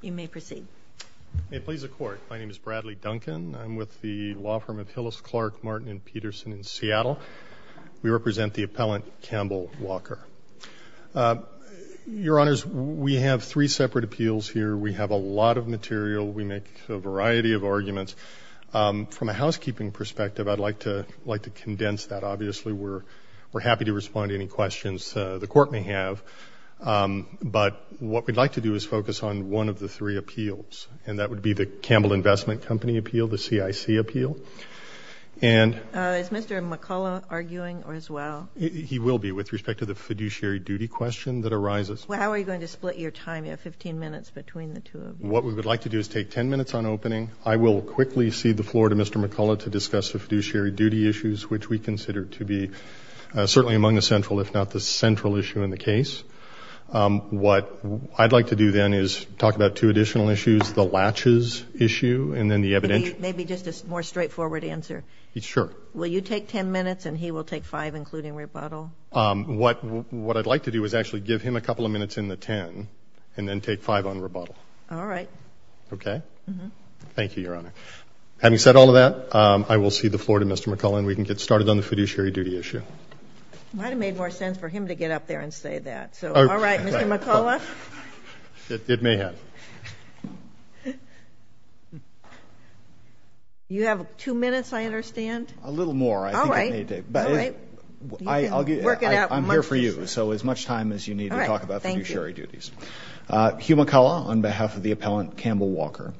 You may proceed. May it please the Court, my name is Bradley Duncan. I'm with the law firm of Hillis, Clark, Martin & Peterson in Seattle. We represent the appellant Campbell Walker. Your Honors, we have three separate appeals here. We have a lot of material. We make a variety of arguments. From a housekeeping perspective, I'd like to condense that. Obviously, we're happy to respond to any questions the Court may have. But what we'd like to do is focus on one of the three appeals, and that would be the Campbell Investment Company appeal, the CIC appeal. Is Mr. McCullough arguing as well? He will be with respect to the fiduciary duty question that arises. How are you going to split your time? You have 15 minutes between the two of you. What we would like to do is take 10 minutes on opening. I will quickly cede the floor to Mr. McCullough to discuss the fiduciary duty issues, which we consider to be certainly among the central, if not the central issue in the case. What I'd like to do then is talk about two additional issues, the latches issue and then the evidential. Maybe just a more straightforward answer. Sure. Will you take 10 minutes and he will take 5, including rebuttal? What I'd like to do is actually give him a couple of minutes in the 10 and then take 5 on rebuttal. All right. Okay? Thank you, Your Honor. Having said all of that, I will cede the floor to Mr. McCullough and we can get started on the fiduciary duty issue. It might have made more sense for him to get up there and say that. All right. Mr. McCullough? It may have. You have two minutes, I understand? A little more. All right. All right. I'm here for you, so as much time as you need to talk about fiduciary duties. All right. Thank you. Hugh McCullough on behalf of the appellant Campbell Walker.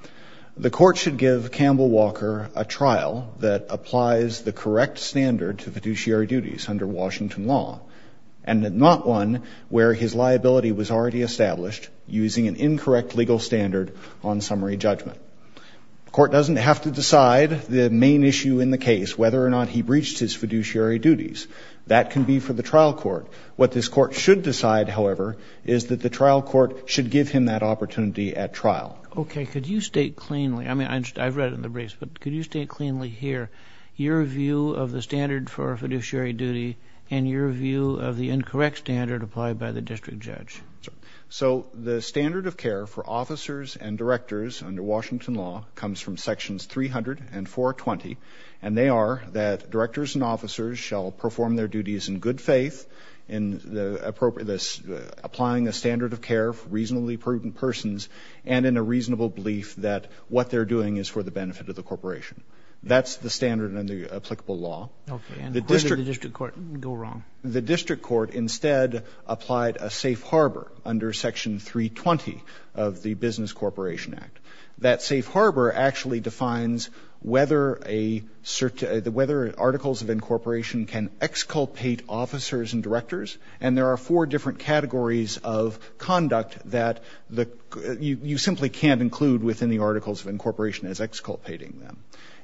The court should give Campbell Walker a trial that applies the correct standard to fiduciary duties under Washington law and not one where his liability was already established using an incorrect legal standard on summary judgment. The court doesn't have to decide the main issue in the case, whether or not he breached his fiduciary duties. That can be for the trial court. What this court should decide, however, is that the trial court should give him that opportunity at trial. Okay. Could you state cleanly? I mean, I've read it in the briefs, but could you state cleanly here your view of the standard for fiduciary duty and your view of the incorrect standard applied by the district judge? So the standard of care for officers and directors under Washington law comes from Sections 300 and 420, and they are that directors and officers shall perform their duties in good faith, in applying a standard of care for reasonably prudent persons, and in a reasonable belief that what they're doing is for the benefit of the corporation. That's the standard in the applicable law. Okay. And where did the district court go wrong? The district court instead applied a safe harbor under Section 320 of the Business Corporation Act. That safe harbor actually defines whether articles of incorporation can exculpate officers and directors, and there are four different categories of conduct that you simply can't include within the articles of incorporation as exculpating them.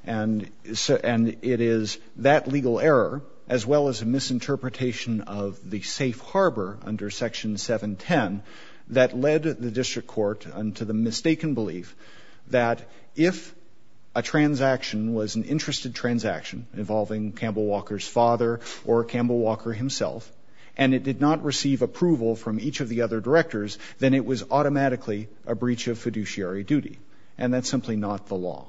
And it is that legal error, as well as a misinterpretation of the safe harbor under Section 710, that led the district court unto the mistaken belief that if a transaction was an interested transaction involving Campbell Walker's father or Campbell Walker himself, and it did not receive approval from each of the other directors, then it was automatically a breach of fiduciary duty, and that's simply not the law.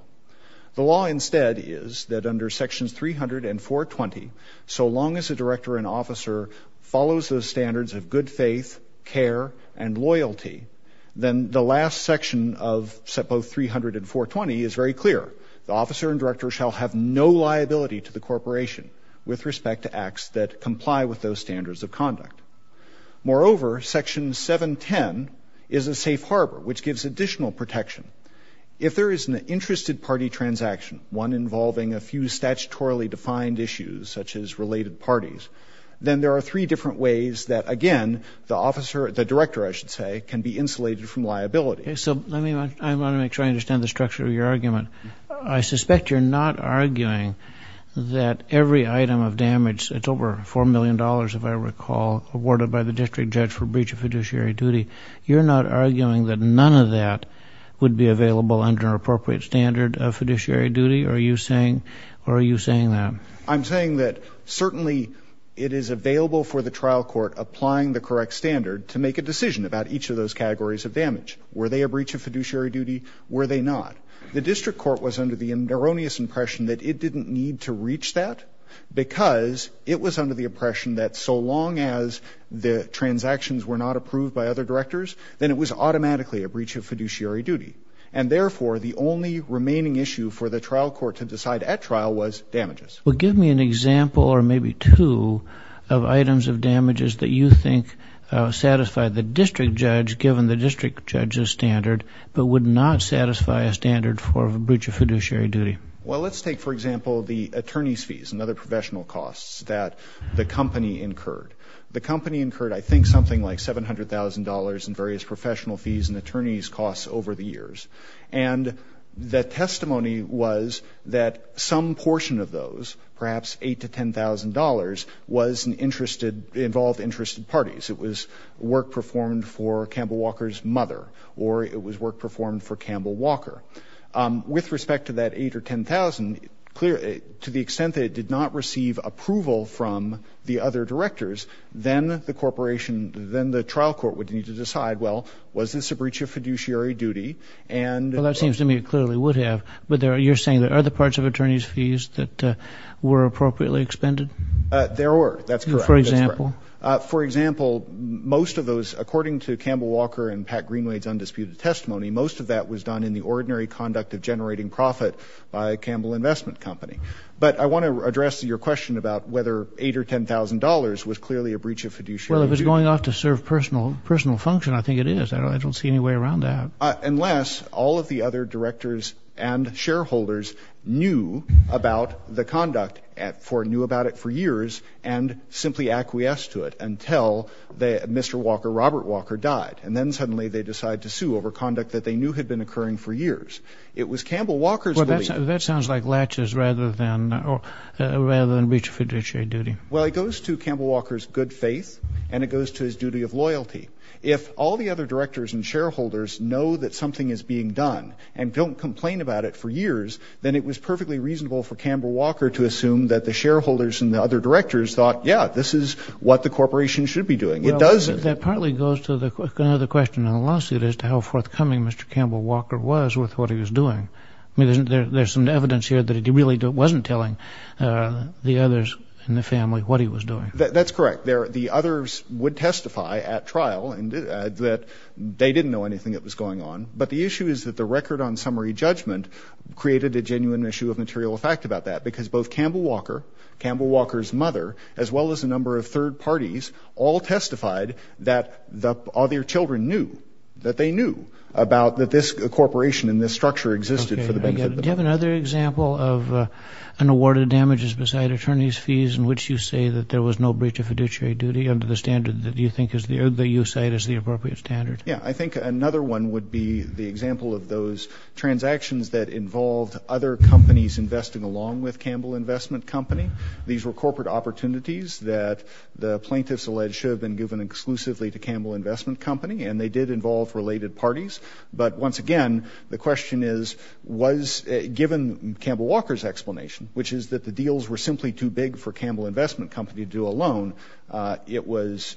The law instead is that under Sections 300 and 420, so long as the director and officer follows those standards of good faith, care, and loyalty, then the last section of both 300 and 420 is very clear. The officer and director shall have no liability to the corporation with respect to acts that comply with those standards of conduct. Moreover, Section 710 is a safe harbor, which gives additional protection. If there is an interested party transaction, one involving a few statutorily defined issues such as related parties, then there are three different ways that, again, the officer, the director, I should say, can be insulated from liability. So I want to make sure I understand the structure of your argument. I suspect you're not arguing that every item of damage, it's over $4 million, if I recall, awarded by the district judge for breach of fiduciary duty. You're not arguing that none of that would be available under an appropriate standard of fiduciary duty? Are you saying that? I'm saying that certainly it is available for the trial court applying the correct standard to make a decision about each of those categories of damage. Were they a breach of fiduciary duty? Were they not? The district court was under the erroneous impression that it didn't need to reach that because it was under the impression that so long as the transactions were not approved by other directors, then it was automatically a breach of fiduciary duty. And therefore, the only remaining issue for the trial court to decide at trial was damages. Well, give me an example or maybe two of items of damages that you think satisfy the district judge given the district judge's standard but would not satisfy a standard for a breach of fiduciary duty. Well, let's take, for example, the attorney's fees and other professional costs that the company incurred. The company incurred I think something like $700,000 in various professional fees and attorney's costs over the years. And the testimony was that some portion of those, perhaps $8,000 to $10,000, involved interested parties. It was work performed for Campbell Walker's mother or it was work performed for Campbell Walker. With respect to that $8,000 or $10,000, to the extent that it did not receive approval from the other directors, then the corporation, then the trial court would need to decide, well, was this a breach of fiduciary duty? Well, that seems to me it clearly would have. But you're saying there are other parts of attorney's fees that were appropriately expended? There were. That's correct. For example? For example, most of those, according to Campbell Walker and Pat Greenway's undisputed testimony, most of that was done in the ordinary conduct of generating profit by Campbell Investment Company. But I want to address your question about whether $8,000 or $10,000 was clearly a breach of fiduciary duty. Well, if it's going off to serve personal function, I think it is. I don't see any way around that. Unless all of the other directors and shareholders knew about the conduct, knew about it for years, and simply acquiesced to it until Mr. Walker, Robert Walker, died. And then suddenly they decide to sue over conduct that they knew had been occurring for years. It was Campbell Walker's belief. That sounds like latches rather than breach of fiduciary duty. Well, it goes to Campbell Walker's good faith, and it goes to his duty of loyalty. If all the other directors and shareholders know that something is being done and don't complain about it for years, then it was perfectly reasonable for Campbell Walker to assume that the shareholders and the other directors thought, yeah, this is what the corporation should be doing. It doesn't. That partly goes to another question on the lawsuit as to how forthcoming Mr. Campbell Walker was with what he was doing. There's some evidence here that he really wasn't telling the others in the family what he was doing. That's correct. The others would testify at trial that they didn't know anything that was going on, but the issue is that the record on summary judgment created a genuine issue of material fact about that because both Campbell Walker, Campbell Walker's mother, as well as a number of third parties, all testified that their children knew, that this corporation and this structure existed for the benefit of the public. Okay. Do you have another example of an award of damages beside attorney's fees in which you say that there was no breach of fiduciary duty under the standard that you think is the appropriate standard? Yeah. I think another one would be the example of those transactions that involved other companies investing along with Campbell Investment Company. These were corporate opportunities that the plaintiffs alleged should have been given exclusively to Campbell Investment Company, and they did involve related parties. But once again, the question is, was given Campbell Walker's explanation, which is that the deals were simply too big for Campbell Investment Company to do alone, it was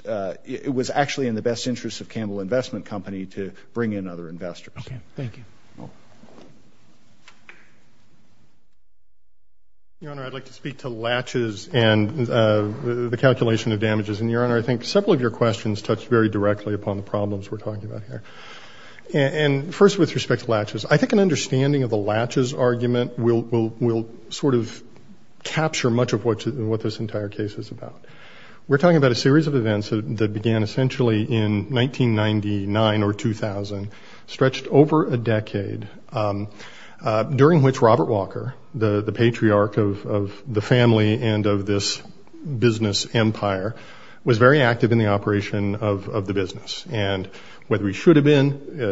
actually in the best interest of Campbell Investment Company to bring in other investors. Okay. Thank you. Your Honor, I'd like to speak to latches and the calculation of damages. And, Your Honor, I think several of your questions touch very directly upon the problems we're talking about here. And first with respect to latches, I think an understanding of the latches argument will sort of capture much of what this entire case is about. We're talking about a series of events that began essentially in 1999 or 2000, stretched over a decade, during which Robert Walker, the patriarch of the family and of this business empire, was very active in the operation of the business. And whether he should have been,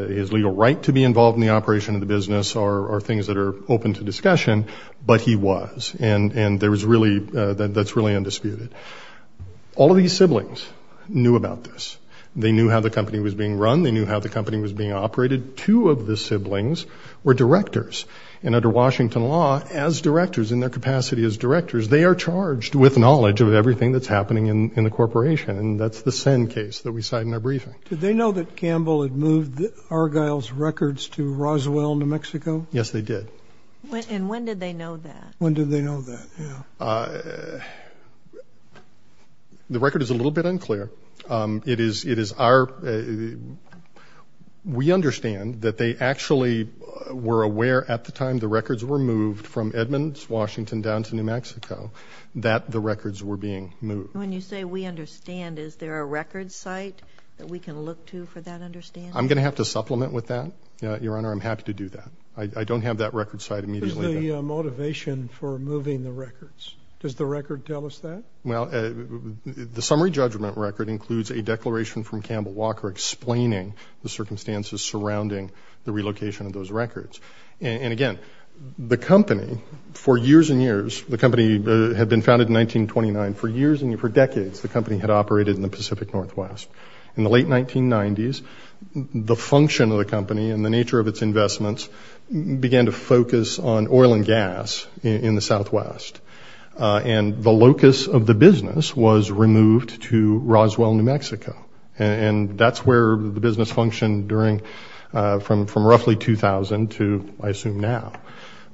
his legal right to be involved in the operation of the business are things that are open to discussion, but he was. And that's really undisputed. All of these siblings knew about this. They knew how the company was being run. They knew how the company was being operated. Two of the siblings were directors. And under Washington law, as directors, in their capacity as directors, they are charged with knowledge of everything that's happening in the corporation. And that's the Senn case that we cite in our briefing. Did they know that Campbell had moved Argyle's records to Roswell, New Mexico? Yes, they did. And when did they know that? When did they know that, yeah. The record is a little bit unclear. It is our ñ we understand that they actually were aware at the time the records were moved from Edmonds, Washington, down to New Mexico that the records were being moved. When you say we understand, is there a record site that we can look to for that understanding? I'm going to have to supplement with that, Your Honor. I'm happy to do that. I don't have that record site immediately. What is the motivation for moving the records? Does the record tell us that? Well, the summary judgment record includes a declaration from Campbell Walker explaining the circumstances surrounding the relocation of those records. And, again, the company, for years and years, the company had been founded in 1929. For years and for decades, the company had operated in the Pacific Northwest. In the late 1990s, the function of the company and the nature of its investments began to focus on oil and gas in the Southwest. And the locus of the business was removed to Roswell, New Mexico. And that's where the business functioned from roughly 2000 to, I assume, now.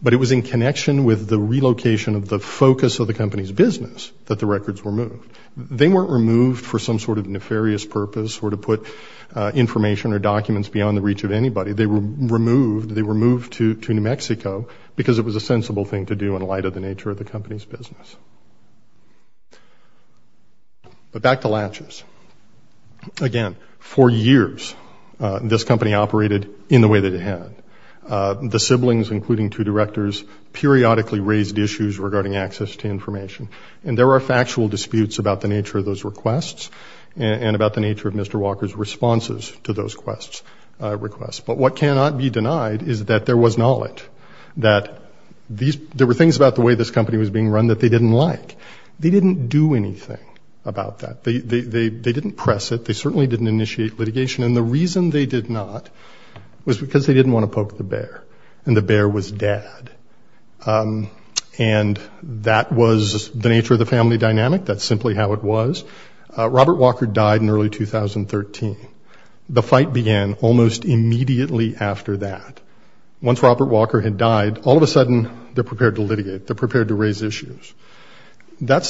But it was in connection with the relocation of the focus of the company's business that the records were moved. They weren't removed for some sort of nefarious purpose or to put information or documents beyond the reach of anybody. They were removed to New Mexico because it was a sensible thing to do in light of the nature of the company's business. But back to latches. Again, for years, this company operated in the way that it had. The siblings, including two directors, periodically raised issues regarding access to information. And there were factual disputes about the nature of those requests and about the nature of Mr. Walker's responses to those requests. But what cannot be denied is that there was knowledge that there were things about the way this company was being run that they didn't like. They didn't do anything about that. They didn't press it. They certainly didn't initiate litigation. And the reason they did not was because they didn't want to poke the bear, and the bear was dead. And that was the nature of the family dynamic. That's simply how it was. Robert Walker died in early 2013. The fight began almost immediately after that. Once Robert Walker had died, all of a sudden they're prepared to litigate. They're prepared to raise issues. That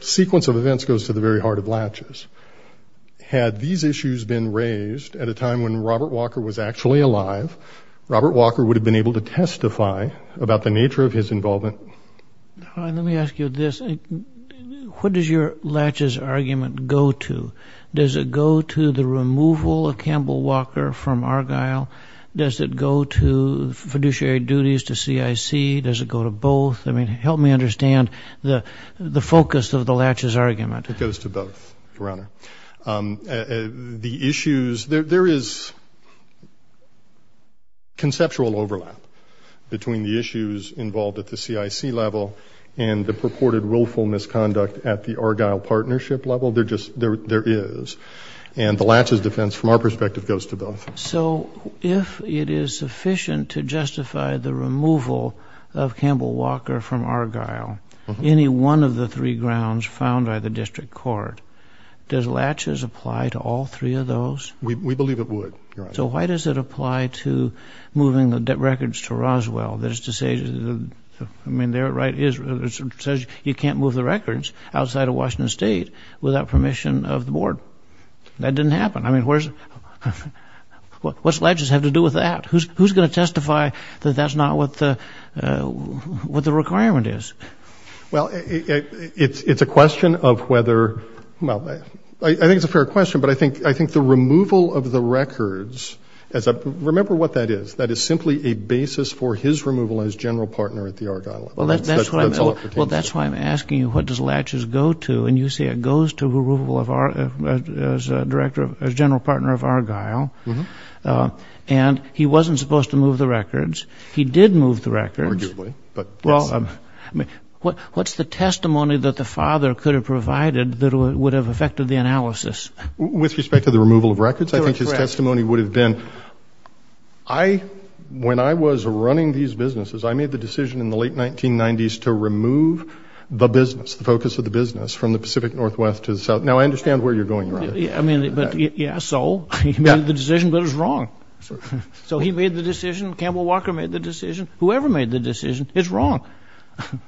sequence of events goes to the very heart of latches. Had these issues been raised at a time when Robert Walker was actually alive, Robert Walker would have been able to testify about the nature of his involvement. Let me ask you this. What does your latches argument go to? Does it go to the removal of Campbell Walker from Argyle? Does it go to fiduciary duties to CIC? Does it go to both? I mean, help me understand the focus of the latches argument. It goes to both, Your Honor. The issues, there is conceptual overlap between the issues involved at the CIC level and the purported willful misconduct at the Argyle partnership level. There just is. And the latches defense, from our perspective, goes to both. So if it is sufficient to justify the removal of Campbell Walker from Argyle, any one of the three grounds found by the district court, does latches apply to all three of those? We believe it would, Your Honor. So why does it apply to moving the records to Roswell? I mean, there it says you can't move the records outside of Washington State without permission of the board. That didn't happen. I mean, what's latches have to do with that? Who's going to testify that that's not what the requirement is? Well, it's a question of whether, well, I think it's a fair question, but I think the removal of the records, remember what that is. That is simply a basis for his removal as general partner at the Argyle. Well, that's why I'm asking you what does latches go to, and you say it goes to removal as general partner of Argyle, and he wasn't supposed to move the records. He did move the records. Arguably. Well, what's the testimony that the father could have provided that would have affected the analysis? With respect to the removal of records, I think his testimony would have been, when I was running these businesses, I made the decision in the late 1990s to remove the business, the focus of the business from the Pacific Northwest to the South. Now, I understand where you're going with this. I mean, but, yeah, so he made the decision, but it was wrong. So he made the decision. Campbell Walker made the decision. Whoever made the decision is wrong.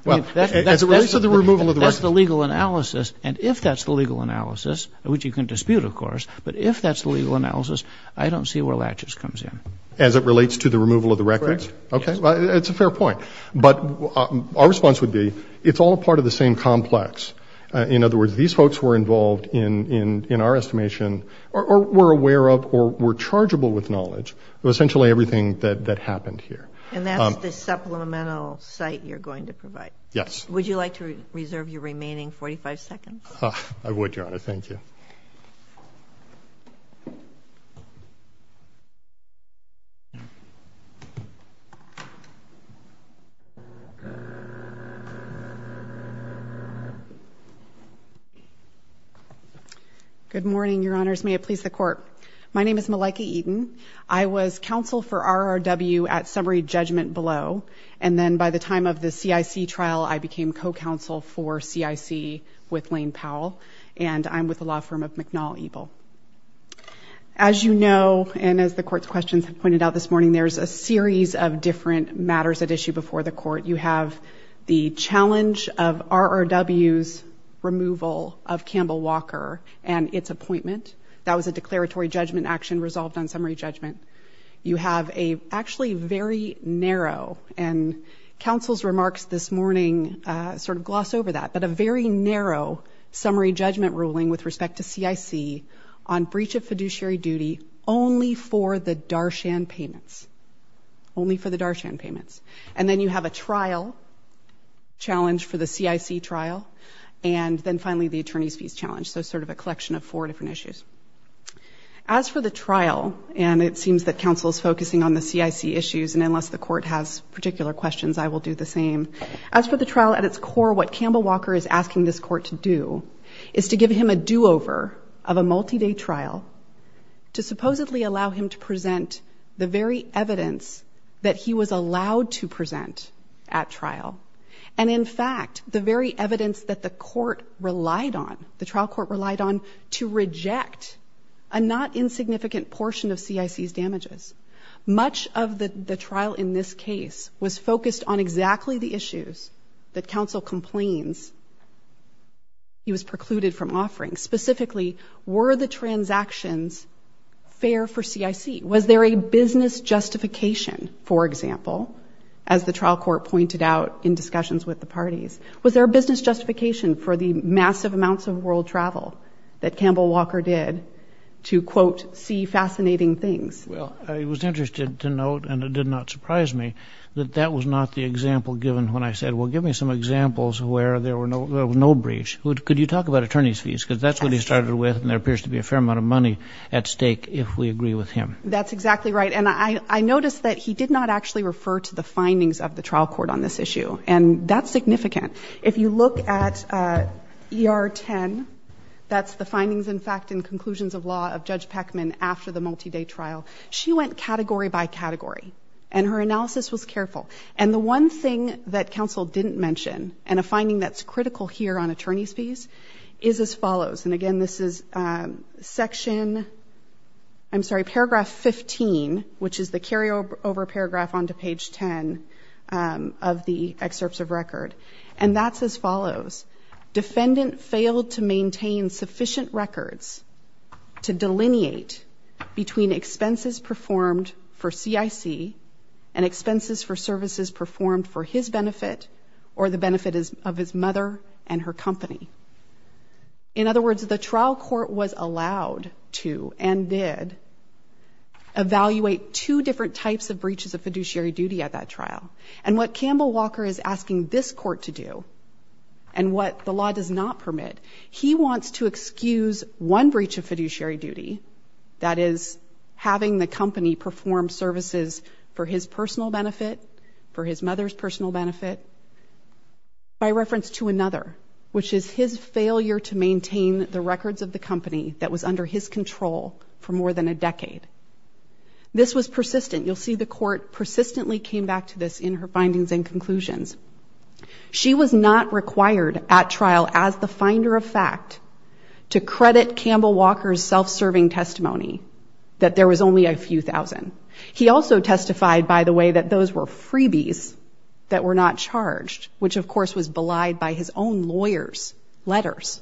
Well, as it relates to the removal of the records. That's the legal analysis, and if that's the legal analysis, which you can dispute, of course, but if that's the legal analysis, I don't see where latches comes in. As it relates to the removal of the records? Correct. Okay. Well, it's a fair point. But our response would be it's all part of the same complex. In other words, these folks were involved in our estimation or were aware of or were chargeable with knowledge of essentially everything that happened here. And that's the supplemental site you're going to provide? Yes. Would you like to reserve your remaining 45 seconds? I would, Your Honor. Thank you. Good morning, Your Honors. May it please the Court. My name is Malaika Eaton. I was counsel for RRW at Summary Judgment Below, and then by the time of the CIC trial, I became co-counsel for CIC with Lane Powell, and I'm with the law firm of McNall Eble. As you know, and as the Court's questions have pointed out this morning, there's a series of different matters at issue before the Court. You have the challenge of RRW's removal of Campbell Walker and its appointment. That was a declaratory judgment action resolved on summary judgment. You have a actually very narrow, and counsel's remarks this morning sort of gloss over that, but a very narrow summary judgment ruling with respect to CIC on breach of fiduciary duty only for the Darshan payments, only for the Darshan payments. And then you have a trial challenge for the CIC trial, and then finally the attorney's fees challenge, so sort of a collection of four different issues. As for the trial, and it seems that counsel's focusing on the CIC issues, and unless the Court has particular questions, I will do the same. As for the trial at its core, what Campbell Walker is asking this Court to do is to give him a do-over of a multi-day trial to supposedly allow him to present the very evidence that he was allowed to present at trial, and in fact the very evidence that the Court relied on, the trial Court relied on, to reject a not insignificant portion of CIC's damages. Much of the trial in this case was focused on exactly the issues that counsel complains he was precluded from offering. Specifically, were the transactions fair for CIC? Was there a business justification, for example, as the trial Court pointed out in discussions with the parties, was there a business justification for the massive amounts of world travel that Campbell Walker did to, quote, see fascinating things? Well, I was interested to note, and it did not surprise me, that that was not the example given when I said, well, give me some examples where there was no breach. Could you talk about attorney's fees? Because that's what he started with, and there appears to be a fair amount of money at stake if we agree with him. That's exactly right, and I noticed that he did not actually refer to the findings of the trial Court on this issue, and that's significant. If you look at ER 10, that's the findings, in fact, and conclusions of law of Judge Peckman after the multi-day trial, she went category by category, and her analysis was careful. And the one thing that counsel didn't mention, and a finding that's critical here on attorney's fees, is as follows, and again, this is section, I'm sorry, paragraph 15, which is the carryover paragraph onto page 10 of the excerpts of record, and that's as follows. Defendant failed to maintain sufficient records to delineate between expenses performed for CIC and expenses for services performed for his benefit or the benefit of his mother and her company. In other words, the trial court was allowed to and did evaluate two different types of breaches of fiduciary duty at that trial, and what Campbell Walker is asking this court to do and what the law does not permit, he wants to excuse one breach of fiduciary duty, that is having the company perform services for his personal benefit, for his mother's personal benefit, by reference to another, which is his failure to maintain the records of the company that was under his control for more than a decade. This was persistent. You'll see the court persistently came back to this in her findings and conclusions. She was not required at trial as the finder of fact to credit Campbell Walker's self-serving testimony that there was only a few thousand. He also testified, by the way, that those were freebies that were not charged, which, of course, was belied by his own lawyers' letters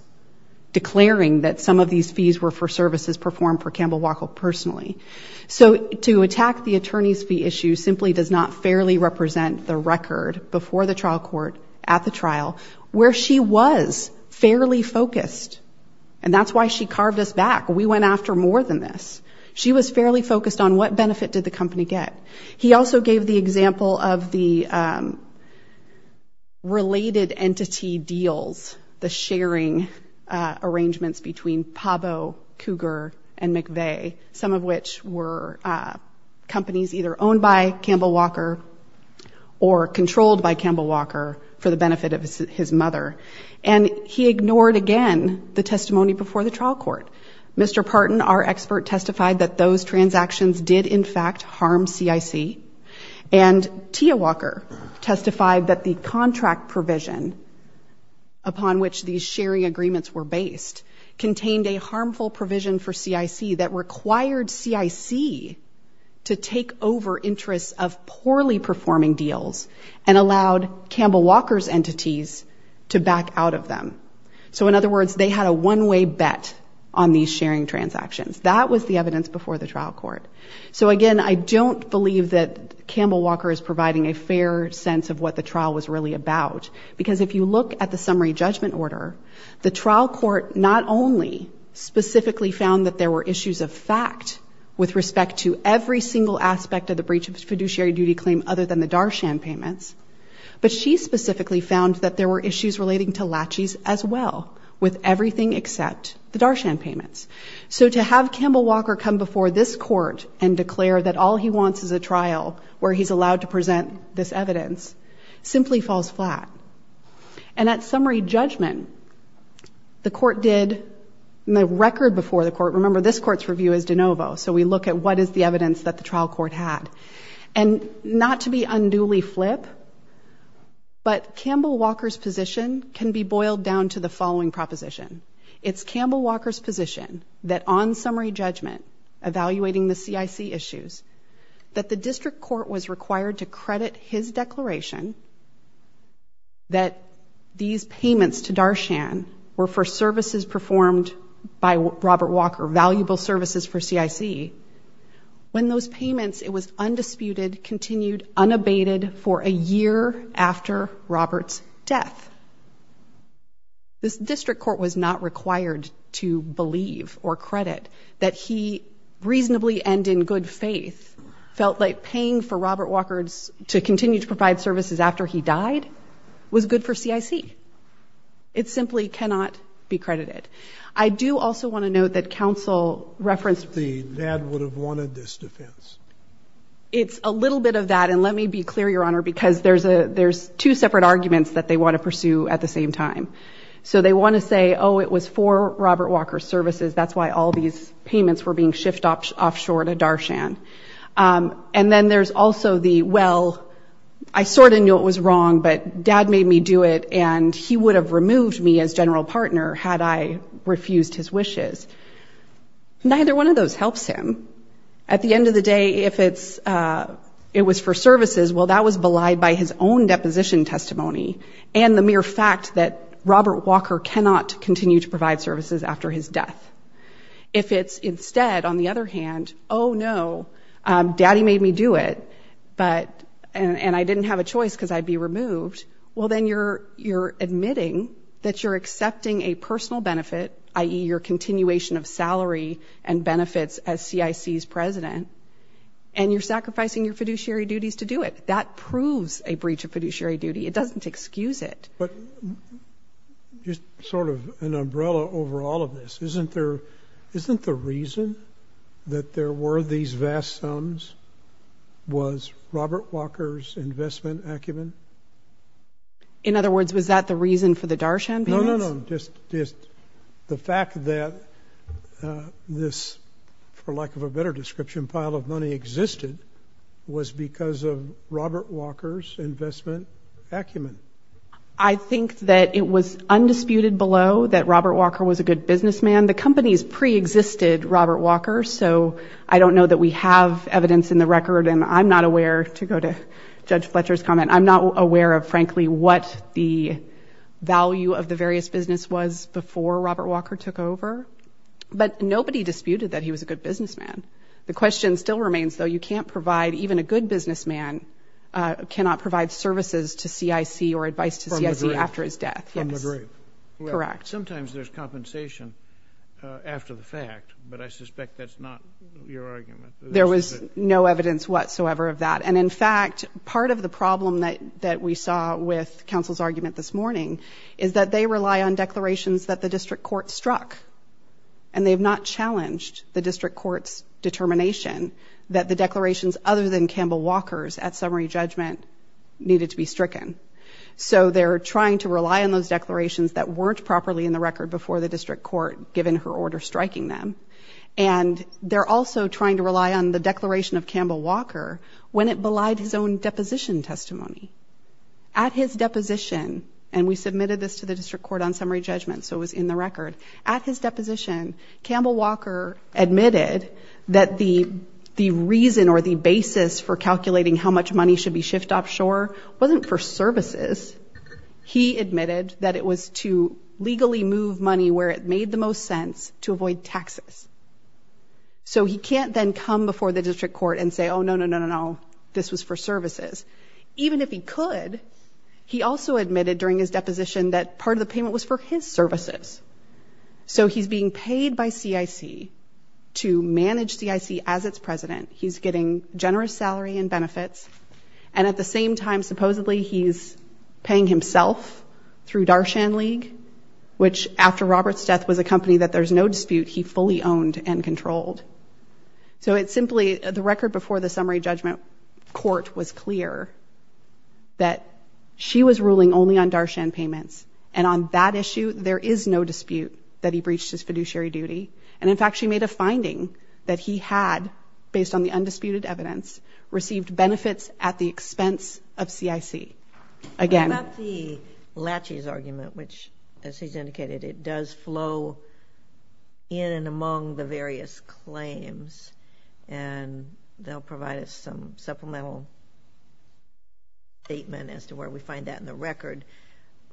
declaring that some of these fees were for services performed for Campbell Walker personally. So to attack the attorney's fee issue simply does not fairly represent the record before the trial court, at the trial, where she was fairly focused. And that's why she carved us back. We went after more than this. She was fairly focused on what benefit did the company get. He also gave the example of the related entity deals, the sharing arrangements between Pabo, Cougar, and McVeigh, some of which were companies either owned by Campbell Walker or controlled by Campbell Walker for the benefit of his mother. And he ignored again the testimony before the trial court. Mr. Parton, our expert, testified that those transactions did, in fact, harm CIC. And Tia Walker testified that the contract provision upon which these sharing agreements were based contained a harmful provision for CIC that required CIC to take over interests of poorly performing deals and allowed Campbell Walker's entities to back out of them. So in other words, they had a one-way bet on these sharing transactions. That was the evidence before the trial court. So again, I don't believe that Campbell Walker is providing a fair sense of what the trial was really about, because if you look at the summary judgment order, the trial court not only specifically found that there were issues of fact with respect to every single aspect of the breach of fiduciary duty claim other than the Darshan payments, but she specifically found that there were issues relating to laches as well with everything except the Darshan payments. So to have Campbell Walker come before this court and declare that all he wants is a trial where he's allowed to present this evidence simply falls flat. And that summary judgment, the court did, and the record before the court, remember this court's review is de novo, so we look at what is the evidence that the trial court had. And not to be unduly flip, but Campbell Walker's position can be boiled down to the following proposition. It's Campbell Walker's position that on summary judgment, evaluating the CIC issues, that the district court was required to credit his declaration that these payments to Darshan were for services performed by Robert Walker, valuable services for CIC. When those payments, it was undisputed, continued, unabated for a year after Robert's death. This district court was not required to believe or credit that he reasonably and in good faith felt like paying for Robert Walker to continue to provide services after he died was good for CIC. It simply cannot be credited. I do also want to note that counsel referenced that the dad would have wanted this defense. It's a little bit of that, and let me be clear, Your Honor, because there's two separate arguments that they want to pursue at the same time. So they want to say, oh, it was for Robert Walker's services, that's why all these payments were being shifted offshore to Darshan. And then there's also the, well, I sort of knew it was wrong, but dad made me do it and he would have removed me as general partner had I refused his wishes. Neither one of those helps him. At the end of the day, if it was for services, well, that was belied by his own deposition testimony and the mere fact that Robert Walker cannot continue to provide services after his death. If it's instead, on the other hand, oh, no, daddy made me do it, and I didn't have a choice because I'd be removed, well, then you're admitting that you're accepting a personal benefit, i.e., your continuation of salary and benefits as CIC's president, and you're sacrificing your fiduciary duties to do it. That proves a breach of fiduciary duty. It doesn't excuse it. But just sort of an umbrella over all of this, isn't the reason that there were these vast sums was Robert Walker's investment acumen? In other words, was that the reason for the Darshan payments? No, no, no, just the fact that this, for lack of a better description, pile of money existed was because of Robert Walker's investment acumen. I think that it was undisputed below that Robert Walker was a good businessman. The companies preexisted Robert Walker, so I don't know that we have evidence in the record, and I'm not aware, to go to Judge Fletcher's comment, I'm not aware of, frankly, what the value of the various business was before Robert Walker took over. But nobody disputed that he was a good businessman. The question still remains, though, you can't provide, even a good businessman cannot provide services to CIC or advice to CIC after his death. From the grave. Correct. Sometimes there's compensation after the fact, but I suspect that's not your argument. There was no evidence whatsoever of that. And, in fact, part of the problem that we saw with counsel's argument this morning is that they rely on declarations that the district court struck, and they have not challenged the district court's determination that the declarations other than Campbell Walker's at summary judgment needed to be stricken. So they're trying to rely on those declarations that weren't properly in the record before the district court, given her order striking them. And they're also trying to rely on the declaration of Campbell Walker when it belied his own deposition testimony. At his deposition, and we submitted this to the district court on summary judgment, so it was in the record. At his deposition, Campbell Walker admitted that the reason or the basis for calculating how much money should be shift offshore wasn't for services. He admitted that it was to legally move money where it made the most sense to avoid taxes. So he can't then come before the district court and say, oh, no, no, no, no, no, this was for services. Even if he could, he also admitted during his deposition that part of the payment was for his services. So he's being paid by CIC to manage CIC as its president. He's getting generous salary and benefits. And at the same time, supposedly he's paying himself through Darshan League, which after Robert's death was a company that there's no dispute he fully owned and controlled. So it's simply the record before the summary judgment court was clear that she was ruling only on Darshan payments. And on that issue, there is no dispute that he breached his fiduciary duty. And, in fact, she made a finding that he had, based on the undisputed evidence, received benefits at the expense of CIC. About the Lachey's argument, which, as he's indicated, it does flow in and among the various claims. And they'll provide us some supplemental statement as to where we find that in the record.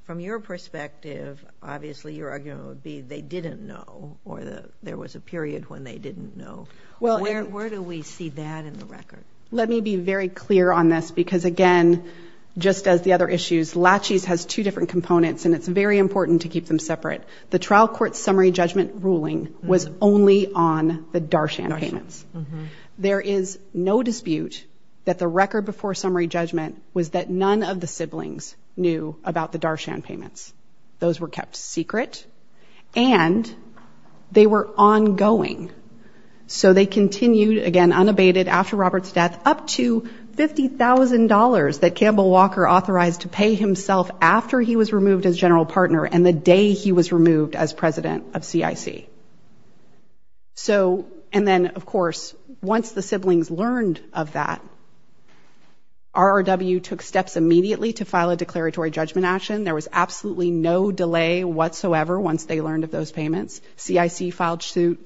From your perspective, obviously your argument would be they didn't know or there was a period when they didn't know. Where do we see that in the record? Let me be very clear on this because, again, just as the other issues, Lachey's has two different components and it's very important to keep them separate. The trial court summary judgment ruling was only on the Darshan payments. There is no dispute that the record before summary judgment was that none of the siblings knew about the Darshan payments. Those were kept secret. And they were ongoing. So they continued, again, unabated after Robert's death, up to $50,000 that Campbell Walker authorized to pay himself after he was removed as general partner and the day he was removed as president of CIC. So, and then, of course, once the siblings learned of that, RRW took steps immediately to file a declaratory judgment action. There was absolutely no delay whatsoever once they learned of those payments. CIC filed suit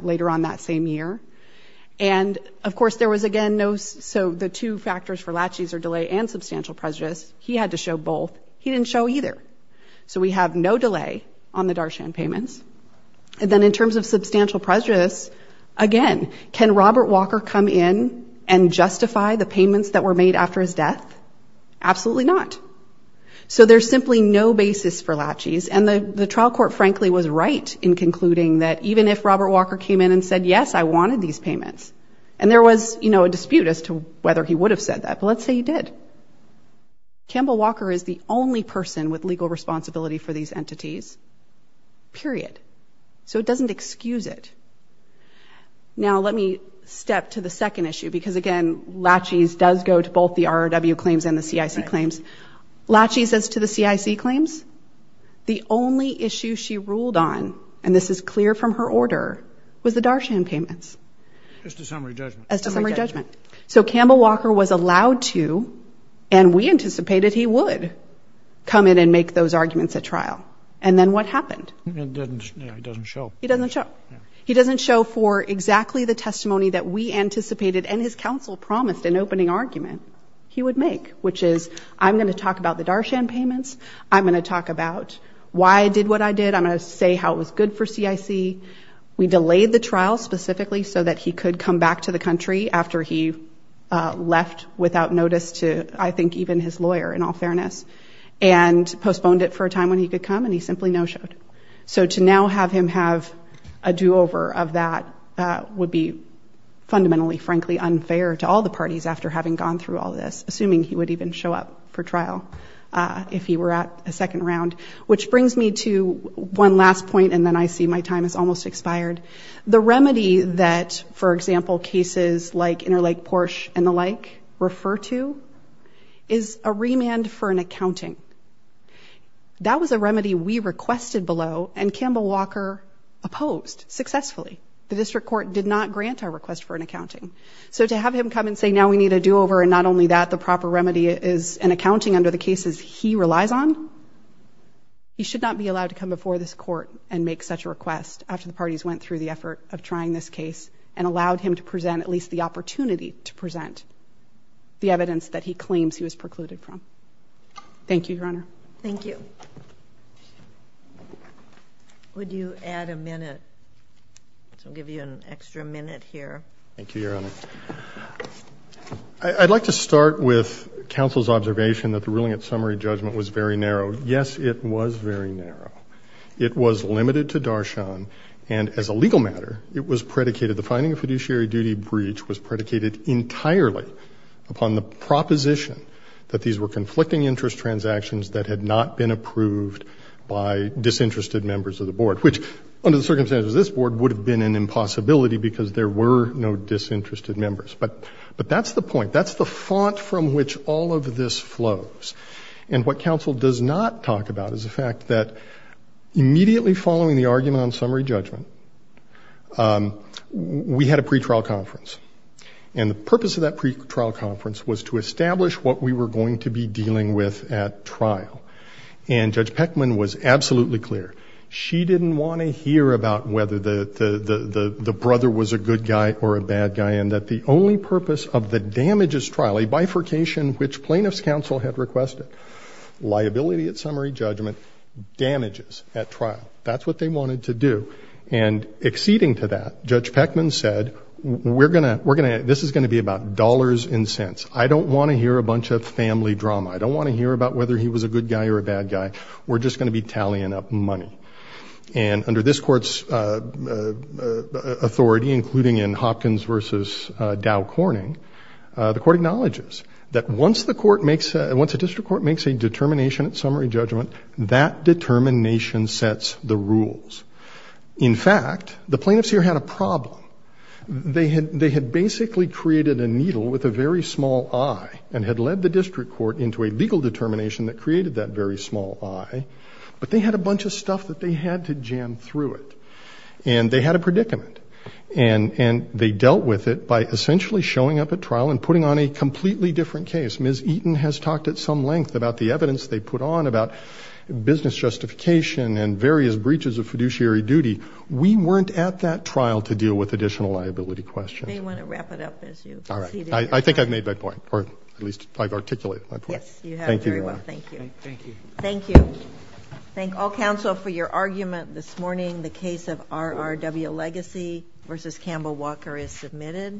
later on that same year. And, of course, there was, again, so the two factors for Lachey's are delay and substantial prejudice. He had to show both. He didn't show either. So we have no delay on the Darshan payments. And then in terms of substantial prejudice, again, can Robert Walker come in and justify the payments that were made after his death? Absolutely not. So there's simply no basis for Lachey's. And the trial court, frankly, was right in concluding that even if Robert Walker came in and said, yes, I wanted these payments, and there was, you know, a dispute as to whether he would have said that, but let's say he did. Campbell Walker is the only person with legal responsibility for these entities, period. So it doesn't excuse it. Now let me step to the second issue because, again, Lachey's does go to both the RRW claims and the CIC claims. Lachey's is to the CIC claims. The only issue she ruled on, and this is clear from her order, was the Darshan payments. As to summary judgment. As to summary judgment. So Campbell Walker was allowed to, and we anticipated he would, come in and make those arguments at trial. And then what happened? He doesn't show. He doesn't show. He doesn't show for exactly the testimony that we anticipated and his counsel promised in opening argument he would make, which is I'm going to talk about the Darshan payments. I'm going to talk about why I did what I did. I'm going to say how it was good for CIC. We delayed the trial specifically so that he could come back to the country after he left without notice to, I think, even his lawyer, in all fairness, and postponed it for a time when he could come, and he simply no-showed. So to now have him have a do-over of that would be fundamentally, frankly, unfair to all the parties after having gone through all this, assuming he would even show up for trial if he were at a second round. Which brings me to one last point, and then I see my time has almost expired. The remedy that, for example, cases like Interlake Porsche and the like refer to is a remand for an accounting. That was a remedy we requested below, and Campbell Walker opposed successfully. The district court did not grant our request for an accounting. So to have him come and say now we need a do-over, and not only that the proper remedy is an accounting under the cases he relies on, he should not be allowed to come before this court and make such a request after the parties went through the effort of trying this case and allowed him to present at least the opportunity to present the evidence that he claims he was precluded from. Thank you, Your Honor. Thank you. Would you add a minute? I'll give you an extra minute here. Thank you, Your Honor. I'd like to start with counsel's observation that the ruling at summary judgment was very narrow. Yes, it was very narrow. It was limited to Darshan, and as a legal matter, it was predicated, the finding of fiduciary duty breach was predicated entirely upon the proposition that these were conflicting interest transactions that had not been approved by disinterested members of the board, which under the circumstances of this board would have been an impossibility because there were no disinterested members. But that's the point. That's the font from which all of this flows. And what counsel does not talk about is the fact that immediately following the argument on summary judgment, we had a pretrial conference. And the purpose of that pretrial conference was to establish what we were going to be dealing with at trial. And Judge Peckman was absolutely clear. She didn't want to hear about whether the brother was a good guy or a bad guy and that the only purpose of the damages trial, a bifurcation which plaintiff's counsel had requested, liability at summary judgment, damages at trial. That's what they wanted to do. And acceding to that, Judge Peckman said, this is going to be about dollars and cents. I don't want to hear a bunch of family drama. I don't want to hear about whether he was a good guy or a bad guy. We're just going to be tallying up money. And under this court's authority, including in Hopkins v. Dow Corning, the court acknowledges that once a district court makes a determination at summary judgment, that determination sets the rules. In fact, the plaintiffs here had a problem. They had basically created a needle with a very small eye and had led the district court into a legal determination that created that very small eye, but they had a bunch of stuff that they had to jam through it. And they had a predicament. And they dealt with it by essentially showing up at trial and putting on a completely different case. Ms. Eaton has talked at some length about the evidence they put on about business justification and various breaches of fiduciary duty. We weren't at that trial to deal with additional liability questions. You may want to wrap it up as you seated. I think I've made my point, or at least I've articulated my point. Yes, you have very well. Thank you. Thank you. Thank you. Thank all counsel for your argument this morning. The case of RRW Legacy v. Campbell Walker is submitted.